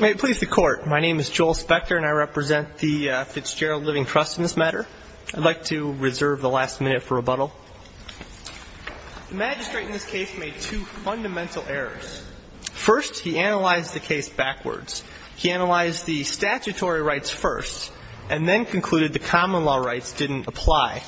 May it please the Court, my name is Joel Spector and I represent the Fitzgerald Living Trust in this matter. I'd like to reserve the last minute for rebuttal. The magistrate in this case made two fundamental errors. First, he analyzed the case backwards. He analyzed the statutory rights first and then concluded the common law rights didn't apply.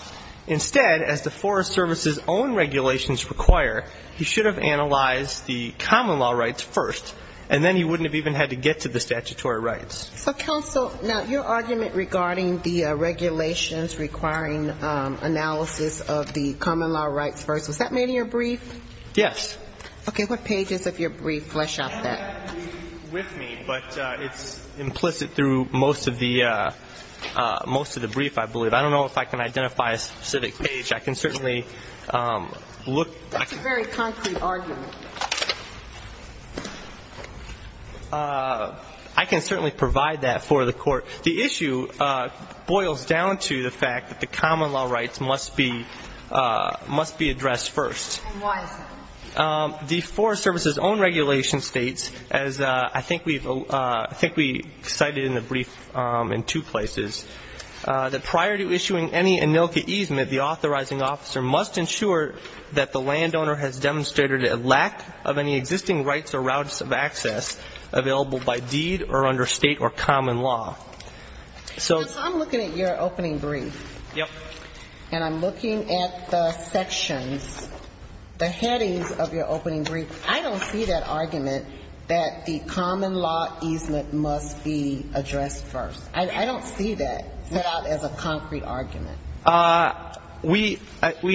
Instead, as the Forest Service's own regulations require, he should have analyzed the common law rights first, and then he wouldn't have even had to get to the statutory rights. So, counsel, now, your argument regarding the regulations requiring analysis of the common law rights first, was that made in your brief? Yes. Okay. What pages of your brief flesh out that? I don't have that brief with me, but it's implicit through most of the brief, I believe. I don't know if I can identify a specific page. I can certainly look. That's a very concrete argument. I can certainly provide that for the Court. The issue boils down to the fact that the common law rights must be addressed first. And why is that? The Forest Service's own regulation states, as I think we cited in the brief in two places, that prior to issuing any ANILCA easement, the authorizing officer must ensure that the landowner has demonstrated a lack of any existing rights or routes of access available by deed or under State or common law. So I'm looking at your opening brief. Yes. And I'm looking at the sections, the headings of your opening brief. I don't see that as a concrete argument that the common law easement must be addressed first. I don't see that set out as a concrete argument. We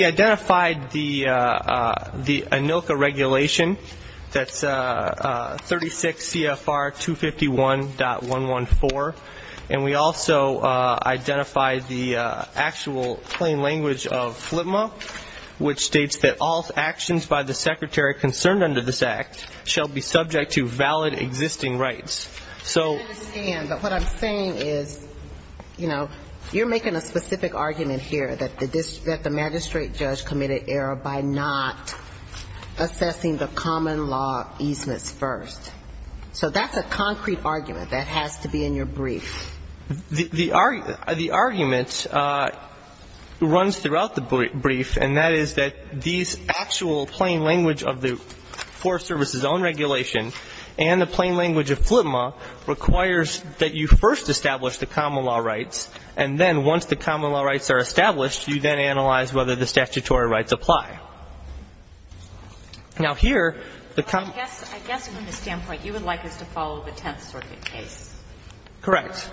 identified the ANILCA regulation, that's 36 CFR 251.114, and we also identified the actual plain language of FLTMA, which states that all actions by the secretary concerned under this Act shall be subject to valid existing rights. I understand, but what I'm saying is, you know, you're making a specific argument here that the magistrate judge committed error by not assessing the common law easements first. So that's a concrete argument that has to be in your brief. The argument runs throughout the brief, and that is that these actual plain language of the Forest Service's own regulation and the plain language of FLTMA requires that you first establish the common law rights, and then once the common law rights are established, you then analyze whether the statutory rights apply. Now, here, the common law ---- I guess from the standpoint you would like us to follow the Tenth Circuit case. Correct.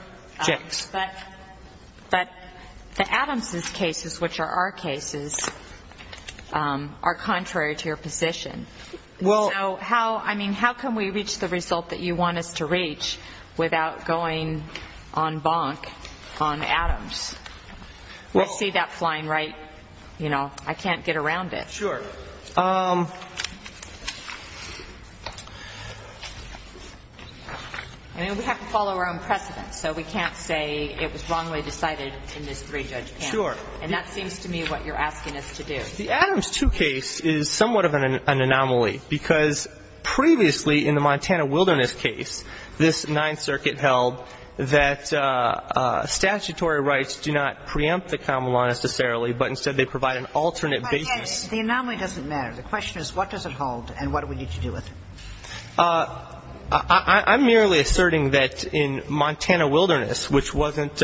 But the Adams's cases, which are our cases, are contrary to your position. Well ---- So how ---- I mean, how can we reach the result that you want us to reach without going en banc on Adams? Well ---- Let's see that flying right, you know, I can't get around it. Sure. I mean, we have to follow our own precedents, so we can't say it was wrongly decided in this three-judge panel. Sure. And that seems to me what you're asking us to do. The Adams 2 case is somewhat of an anomaly, because previously in the Montana Wilderness case, this Ninth Circuit held that statutory rights do not preempt the common law necessarily, but instead they provide an alternate basis. The anomaly doesn't matter. The question is what does it hold and what do we need to do with it? I'm merely asserting that in Montana Wilderness, which wasn't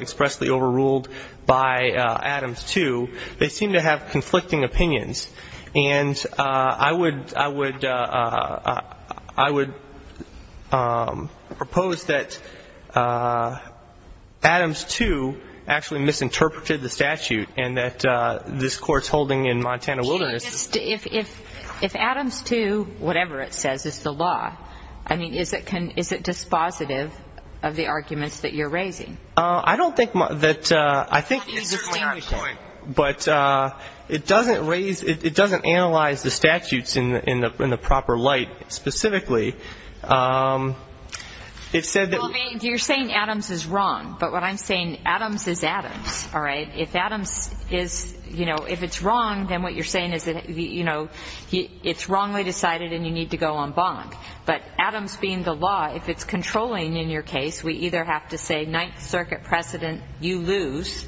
expressly overruled by Adams 2, they seem to have conflicting opinions. And I would ---- I would propose that Adams 2 actually misinterpreted the statute and that this Court's holding in Montana Wilderness ---- If Adams 2, whatever it says, is the law, I mean, is it dispositive of the arguments that you're raising? I don't think that ---- It's certainly not a point. But it doesn't raise ---- it doesn't analyze the statutes in the proper light specifically. It said that ---- Well, you're saying Adams is wrong, but what I'm saying, Adams is Adams, all right? If Adams is, you know, if it's wrong, then what you're saying is that, you know, it's wrongly decided and you need to go en banc. But Adams being the law, if it's controlling in your case, we either have to say Ninth Circuit precedent, you lose,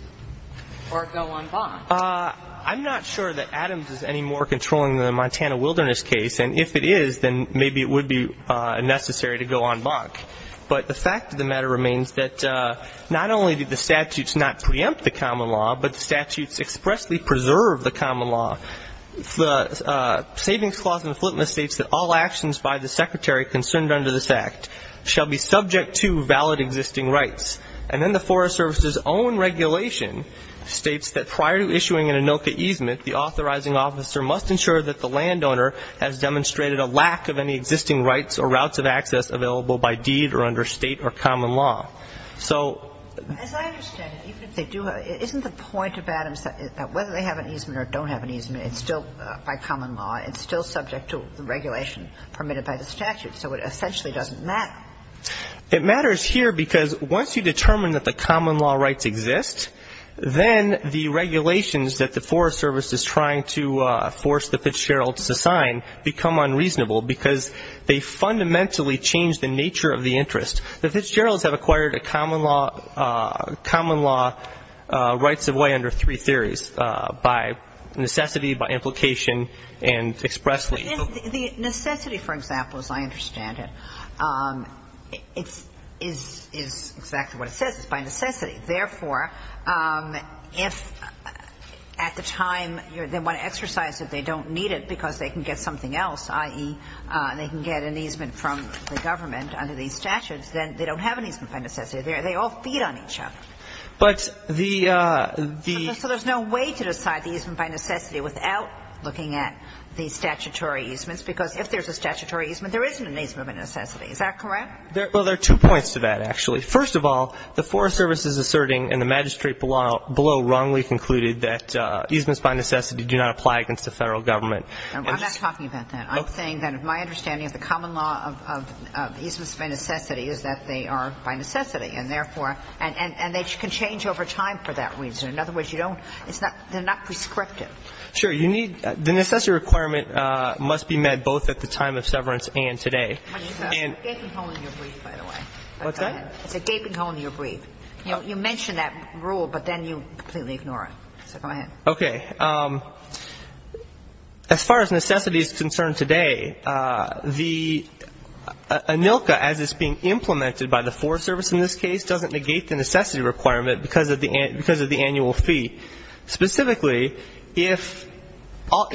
or go en banc. I'm not sure that Adams is any more controlling than the Montana Wilderness case. And if it is, then maybe it would be necessary to go en banc. But the fact of the matter remains that not only did the statutes not preempt the common law, but the statutes expressly preserve the common law. The Savings Clause in the Flipmist states that all actions by the Secretary concerned under this Act shall be subject to valid existing rights. And then the Forest Service's own regulation states that prior to issuing an ANOCA easement, the authorizing officer must ensure that the landowner has demonstrated a lack of any existing rights or routes of access available by deed or under State or common law. So ---- As I understand it, even if they do have ---- isn't the point of Adams that whether they have an easement or don't have an easement, it's still by common law, it's still subject to the regulation permitted by the statute. So it essentially doesn't matter. It matters here because once you determine that the common law rights exist, then the regulations that the Forest Service is trying to force the Fitzgeralds to sign become unreasonable because they fundamentally change the nature of the interest. The Fitzgeralds have acquired a common law ---- The Fitzgeralds have acquired a common law under three theories, by necessity, by implication, and expressly. The necessity, for example, as I understand it, is exactly what it says. It's by necessity. Therefore, if at the time they want to exercise it, they don't need it because they can get something else, i.e., they can get an easement from the government under these So there's no way to decide the easement by necessity without looking at the statutory easements, because if there's a statutory easement, there isn't an easement by necessity. Is that correct? Well, there are two points to that, actually. First of all, the Forest Service is asserting, and the magistrate below wrongly concluded, that easements by necessity do not apply against the Federal Government. I'm not talking about that. I'm saying that my understanding of the common law of easements by necessity is that they are by necessity, and therefore ---- and they can change over time for that reason. In other words, you don't ---- they're not prescriptive. Sure. You need ---- the necessity requirement must be met both at the time of severance and today. It's a gaping hole in your brief, by the way. What's that? It's a gaping hole in your brief. You mentioned that rule, but then you completely ignore it. So go ahead. Okay. As far as necessity is concerned today, the ANILCA, as is being implemented by the Forest Service in this case, doesn't negate the necessity requirement because of the annual fee. Specifically, if all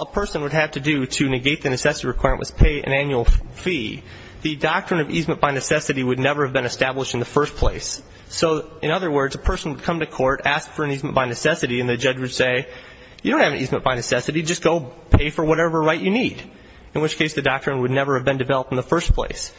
a person would have to do to negate the necessity requirement was pay an annual fee, the doctrine of easement by necessity would never have been established in the first place. So, in other words, a person would come to court, ask for an easement by necessity, and the judge would say, you don't have an easement by necessity. Just go pay for whatever right you need, in which case the doctrine would never have been developed in the first place.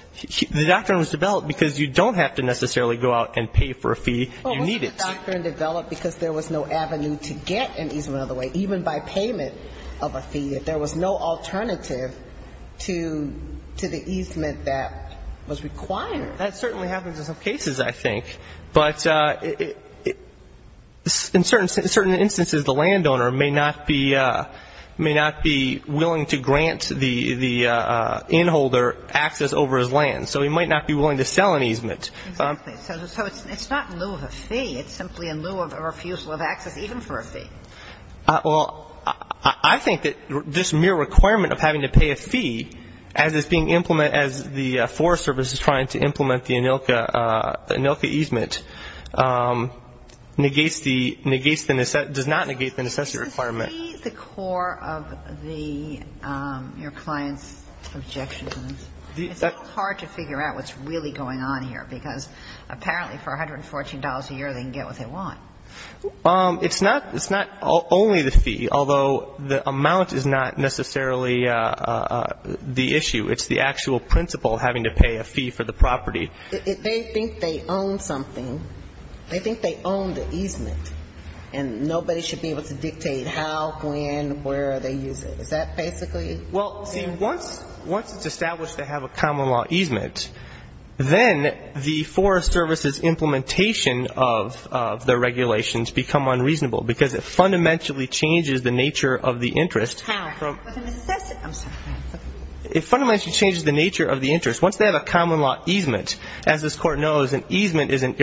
The doctrine was developed because you don't have to necessarily go out and pay for a fee you need it to. Well, wasn't the doctrine developed because there was no avenue to get an easement out of the way, even by payment of a fee? There was no alternative to the easement that was required. That certainly happens in some cases, I think. But in certain instances, the landowner may not be willing to grant the inholder access over his land, so he might not be willing to sell an easement. Exactly. So it's not in lieu of a fee. It's simply in lieu of a refusal of access even for a fee. Well, I think that this mere requirement of having to pay a fee, as it's being implemented, as the Forest Service is trying to implement the ANILCA easement, negates the necessity, does not negate the necessity requirement. Is the fee the core of your client's objections? It's hard to figure out what's really going on here, because apparently for $114 a year they can get what they want. It's not only the fee, although the amount is not necessarily the issue. It's the actual principle, having to pay a fee for the property. They think they own something. They think they own the easement. And nobody should be able to dictate how, when, where they use it. Is that basically it? Well, see, once it's established they have a common law easement, then the Forest Service's implementation of the regulations become unreasonable, because it fundamentally changes the nature of the interest. How? It fundamentally changes the nature of the interest. Once they have a common law easement, as this Court knows, an easement is an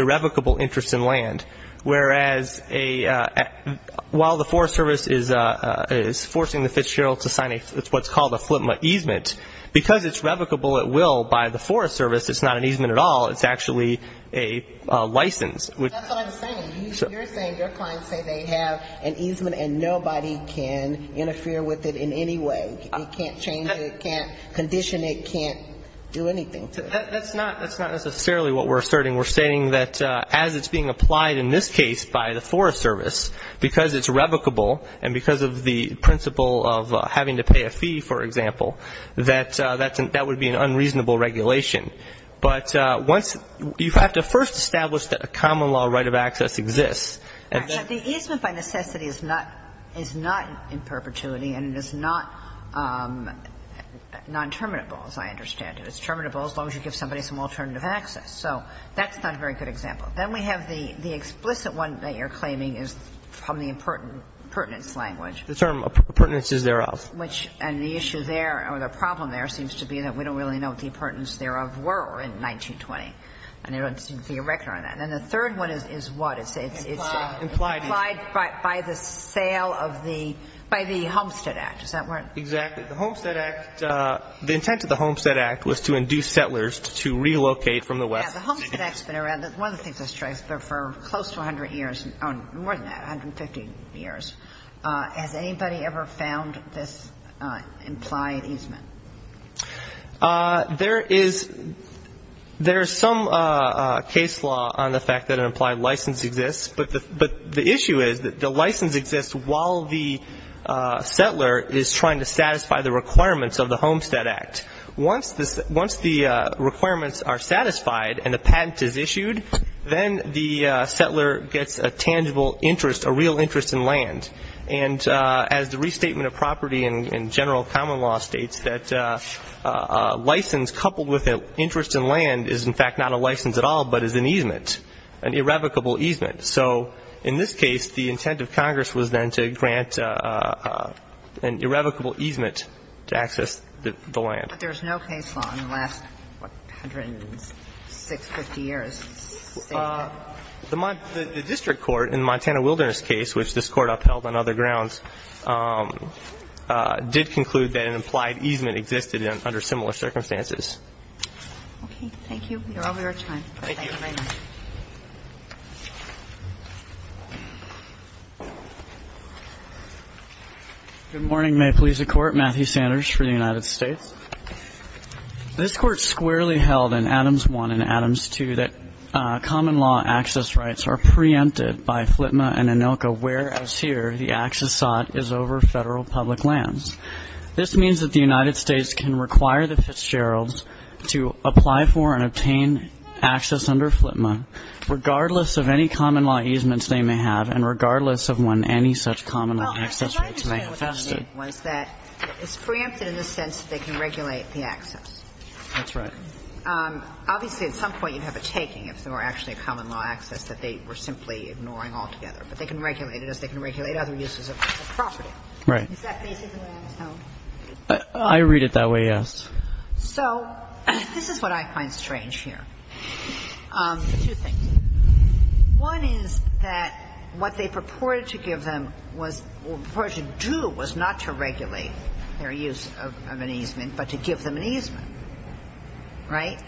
while the Forest Service is forcing the Fitzgerald to sign what's called a Flipma easement, because it's revocable at will by the Forest Service, it's not an easement at all. It's actually a license. That's what I'm saying. You're saying your clients say they have an easement and nobody can interfere with it in any way. You can't change it. You can't condition it. You can't do anything to it. That's not necessarily what we're asserting. We're asserting that as it's being applied in this case by the Forest Service, because it's revocable and because of the principle of having to pay a fee, for example, that that would be an unreasonable regulation. But once you have to first establish that a common law right of access exists. The easement by necessity is not in perpetuity and it is not non-terminable, as I understand it. It's terminable as long as you give somebody some alternative access. So that's not a very good example. Then we have the explicit one that you're claiming is from the impertinence language. The term impertinence is thereof. Which, and the issue there or the problem there seems to be that we don't really know what the impertinence thereof were in 1920. And there doesn't seem to be a record on that. And the third one is what? It's implied by the sale of the by the Homestead Act. Is that right? Exactly. The Homestead Act, the intent of the Homestead Act was to induce settlers to relocate from the west. The Homestead Act has been around, one of the things I stress, for close to 100 years, more than that, 150 years. Has anybody ever found this implied easement? There is some case law on the fact that an implied license exists. But the issue is that the license exists while the settler is trying to satisfy the requirements of the Homestead Act. Once the requirements are satisfied and the patent is issued, then the settler gets a tangible interest, a real interest in land. And as the restatement of property in general common law states, that a license coupled with an interest in land is, in fact, not a license at all, but is an easement, an irrevocable easement. So in this case, the intent of Congress was then to grant an irrevocable easement to access the land. But there is no case law in the last, what, 106, 150 years to state that? The district court in the Montana Wilderness case, which this Court upheld on other grounds, did conclude that an implied easement existed under similar circumstances. Okay. Thank you. We are over our time. Thank you very much. Good morning. May it please the Court. Matthew Sanders for the United States. This Court squarely held in Adams 1 and Adams 2 that common law access rights are preempted by FLTMA and ANILCA whereas here the access sought is over federal public lands. This means that the United States can require the Fitzgeralds to apply for and obtain access under FLTMA regardless of any common law easements they may have and regardless of when any such common law access rights may have existed. Well, I'm trying to say what I mean was that it's preempted in the sense that they can regulate the access. That's right. Obviously, at some point you'd have a taking if there were actually a common law access that they were simply ignoring altogether. But they can regulate it as they can regulate other uses of property. Right. Is that basically what I was told? I read it that way, yes. So this is what I find strange here. Two things. One is that what they purported to give them was or purported to do was not to regulate their use of an easement, but to give them an easement. Right?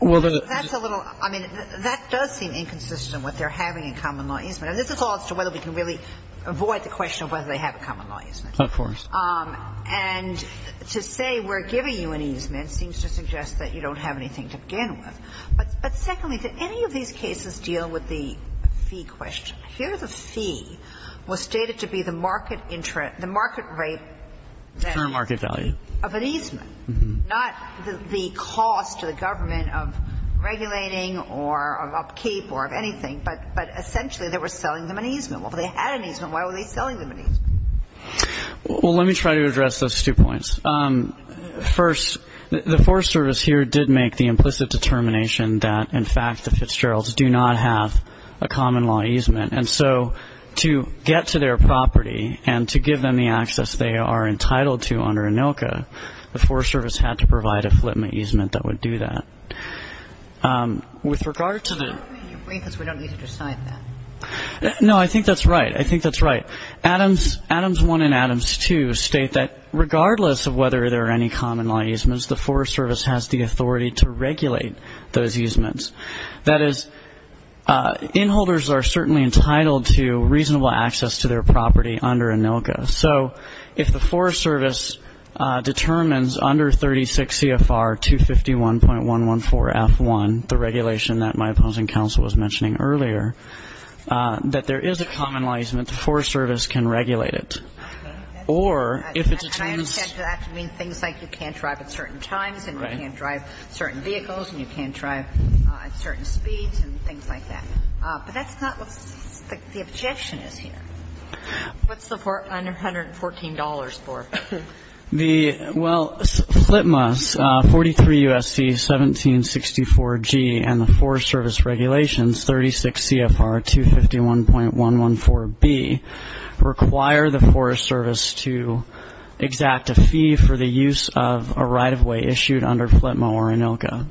That's a little – I mean, that does seem inconsistent with what they're having in common law easement. And this is all as to whether we can really avoid the question of whether they have a common law easement. Of course. And to say we're giving you an easement seems to suggest that you don't have anything to begin with. But secondly, do any of these cases deal with the fee question? Here the fee was stated to be the market rate of an easement, not the cost to the government of regulating or of upkeep or of anything, but essentially they were selling them an easement. Well, if they had an easement, why were they selling them an easement? Well, let me try to address those two points. First, the Forest Service here did make the implicit determination that, in fact, the Fitzgeralds do not have a common law easement. And so to get to their property and to give them the access they are entitled to under ANILCA, the Forest Service had to provide a flipment easement that would do that. With regard to the – We don't need to decide that. No, I think that's right. I think that's right. So Adams 1 and Adams 2 state that regardless of whether there are any common law easements, the Forest Service has the authority to regulate those easements. That is, inholders are certainly entitled to reasonable access to their property under ANILCA. So if the Forest Service determines under 36 CFR 251.114F1, the regulation that my opposing counsel was mentioning earlier, that there is a common law easement, the Forest Service can regulate it. Or if it determines – And I understand that to mean things like you can't drive at certain times and you can't drive certain vehicles and you can't drive at certain speeds and things like that. But that's not what the objection is here. What's the $114 for? Well, FLTMA's 43 U.S.C. 1764G and the Forest Service regulations 36 CFR 251.114B require the Forest Service to exact a fee for the use of a right-of-way issued under FLTMA or ANILCA.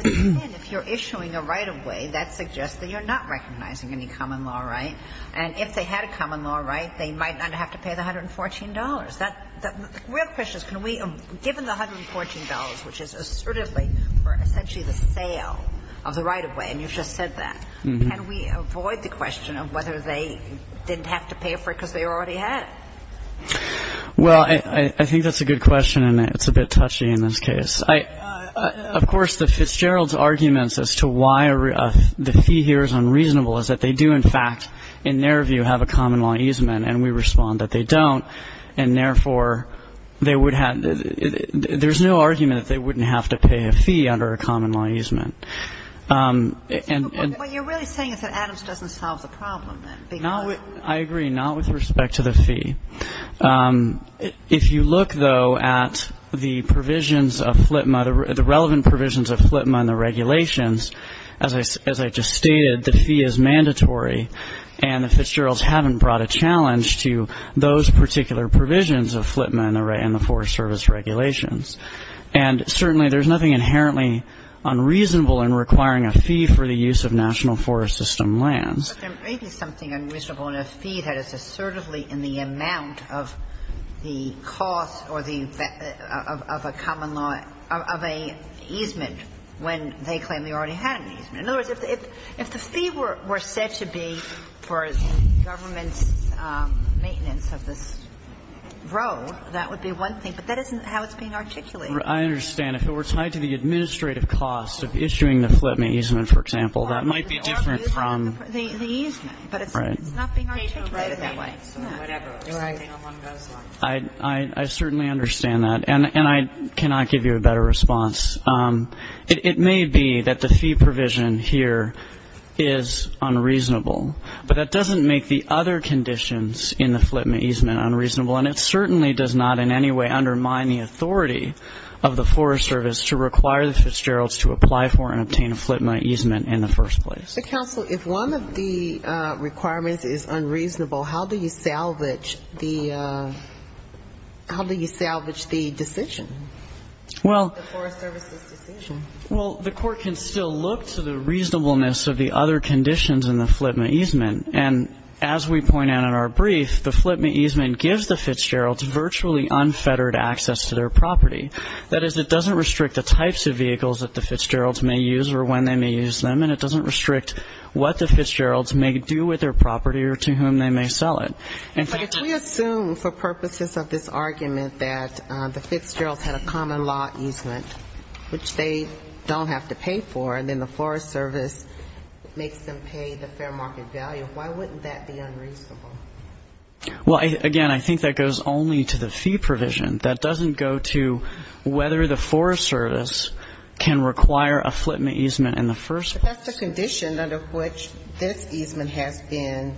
But then if you're issuing a right-of-way, that suggests that you're not recognizing any common law right. And if they had a common law right, they might not have to pay the $114. The real question is can we, given the $114, which is assertively for essentially the sale of the right-of-way, and you've just said that, can we avoid the question of whether they didn't have to pay for it because they already had? Well, I think that's a good question, and it's a bit touchy in this case. Of course, Fitzgerald's arguments as to why the fee here is unreasonable is that they do, in fact, in their view, have a common law easement, and we respond that they don't, and therefore, they would have to – there's no argument that they wouldn't have to pay a fee under a common law easement. What you're really saying is that Adams doesn't solve the problem, then. I agree, not with respect to the fee. If you look, though, at the provisions of FLTMA, the relevant provisions of FLTMA and the regulations, as I just stated, the fee is mandatory, and the Fitzgeralds haven't brought a challenge to those particular provisions of FLTMA and the Forest Service regulations. And certainly, there's nothing inherently unreasonable in requiring a fee for the use of National Forest System lands. But there may be something unreasonable in a fee that is assertively in the amount of the cost or the effect of a common law – of a easement when they claim they already had an easement. In other words, if the fee were said to be for the government's maintenance of this road, that would be one thing, but that isn't how it's being articulated. I understand. If it were tied to the administrative cost of issuing the FLTMA easement, for example, that might be different from the easement, but it's not being articulated that way. I certainly understand that, and I cannot give you a better response. It may be that the fee provision here is unreasonable, but that doesn't make the other conditions in the FLTMA easement unreasonable, and it certainly does not in any way undermine the authority of the Forest Service to require the Fitzgeralds to apply for and obtain a FLTMA easement in the first place. Counsel, if one of the requirements is unreasonable, how do you salvage the decision? Well, the court can still look to the reasonableness of the other conditions in the FLTMA easement, and as we point out in our brief, the FLTMA easement gives the Fitzgeralds virtually unfettered access to their property. That is, it doesn't restrict the types of vehicles that the Fitzgeralds may use or when they may use them, and it doesn't restrict what the Fitzgeralds may do with their property or to whom they may sell it. But if we assume for purposes of this argument that the Fitzgeralds had a common law easement, which they don't have to pay for, and then the Forest Service makes them pay the fair market value, why wouldn't that be unreasonable? Well, again, I think that goes only to the fee provision. That doesn't go to whether the Forest Service can require a FLTMA easement in the first place. But that's the condition under which this easement has been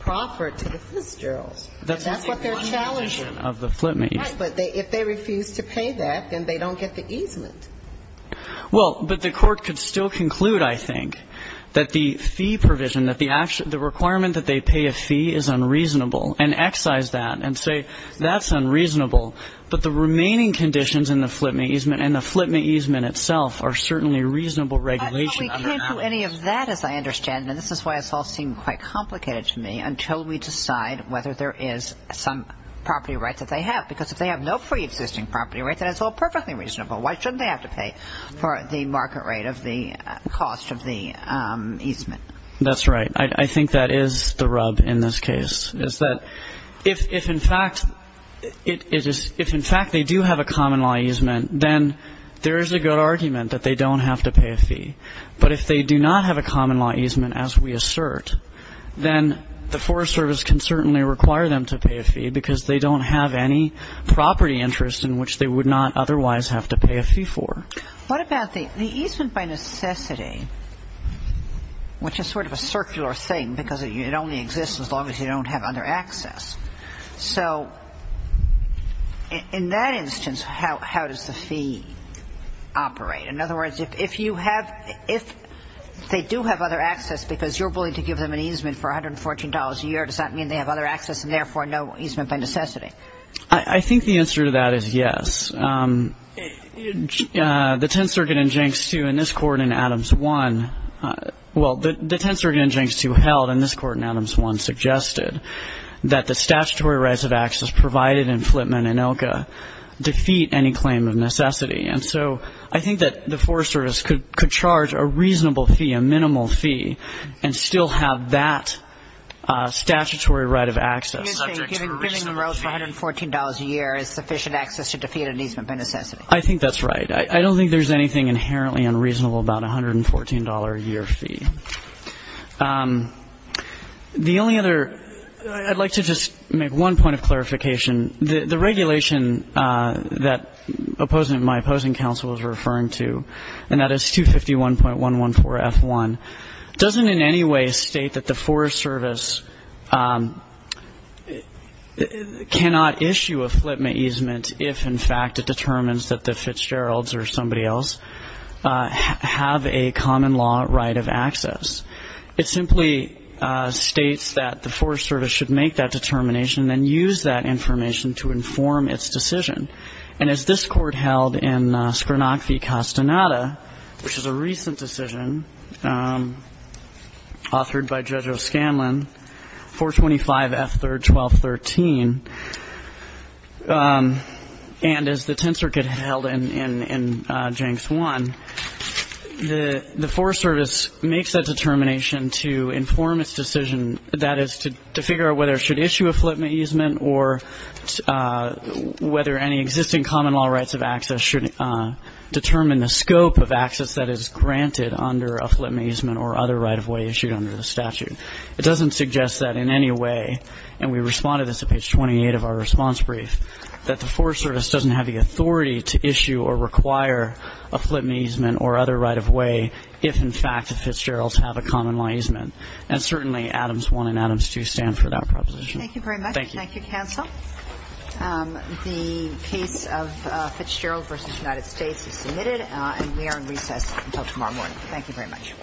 proffered to the Fitzgeralds. And that's what they're challenging. Right. But if they refuse to pay that, then they don't get the easement. Well, but the court could still conclude, I think, that the fee provision, that the requirement that they pay a fee is unreasonable, and excise that and say that's unreasonable. But the remaining conditions in the FLTMA easement and the FLTMA easement itself are certainly reasonable regulation. But we can't do any of that, as I understand, and this is why this all seemed quite complicated to me, until we decide whether there is some property right that they have. Because if they have no preexisting property right, then it's all perfectly reasonable. Why shouldn't they have to pay for the market rate of the cost of the easement? That's right. I think that is the rub in this case. Is that if, in fact, they do have a common law easement, then there is a good argument that they don't have to pay a fee. But if they do not have a common law easement, as we assert, then the Forest Service can certainly require them to pay a fee because they don't have any property interest in which they would not otherwise have to pay a fee for. What about the easement by necessity, which is sort of a circular thing because it only exists as long as you don't have other access. So in that instance, how does the fee operate? In other words, if they do have other access because you're willing to give them an easement for $114 a year, does that mean they have other access and therefore no easement by necessity? I think the answer to that is yes. The Tenth Circuit in Jenks 2 and this Court in Adams 1, well, the Tenth Circuit in Jenks 2 held, and this Court in Adams 1 suggested, that the statutory rights of access provided in Flipman and ILCA defeat any claim of necessity. And so I think that the Forest Service could charge a reasonable fee, a minimal fee, and still have that statutory right of access. You're saying giving them roads for $114 a year is sufficient access to defeat an easement by necessity? I think that's right. I don't think there's anything inherently unreasonable about a $114-a-year fee. The only other, I'd like to just make one point of clarification. The regulation that my opposing counsel was referring to, and that is 251.114F1, doesn't in any way state that the Forest Service cannot issue a Flipman easement if, in fact, it determines that the Fitzgeralds or somebody else have a common law right of access. It simply states that the Forest Service should make that determination and then use that information to inform its decision. And as this Court held in Scrinocchi-Castaneda, which is a recent decision authored by Judge O'Scanlan, 425F3-1213, and as the Tenth Circuit held in Janx I, the Forest Service makes that determination to inform its decision, that is to figure out whether it should issue a Flipman easement or whether any existing common law rights of access should determine the scope of access that is granted under a Flipman easement or other right of way issued under the statute. It doesn't suggest that in any way, and we responded to this at page 28 of our response brief, that the Forest Service doesn't have the authority to issue or require a Flipman easement or other right of way if, in fact, the Fitzgeralds have a common law easement. And certainly, Adams 1 and Adams 2 stand for that proposition. Thank you. Thank you, counsel. The case of Fitzgerald v. United States is submitted, and we are in recess until tomorrow morning. Thank you very much.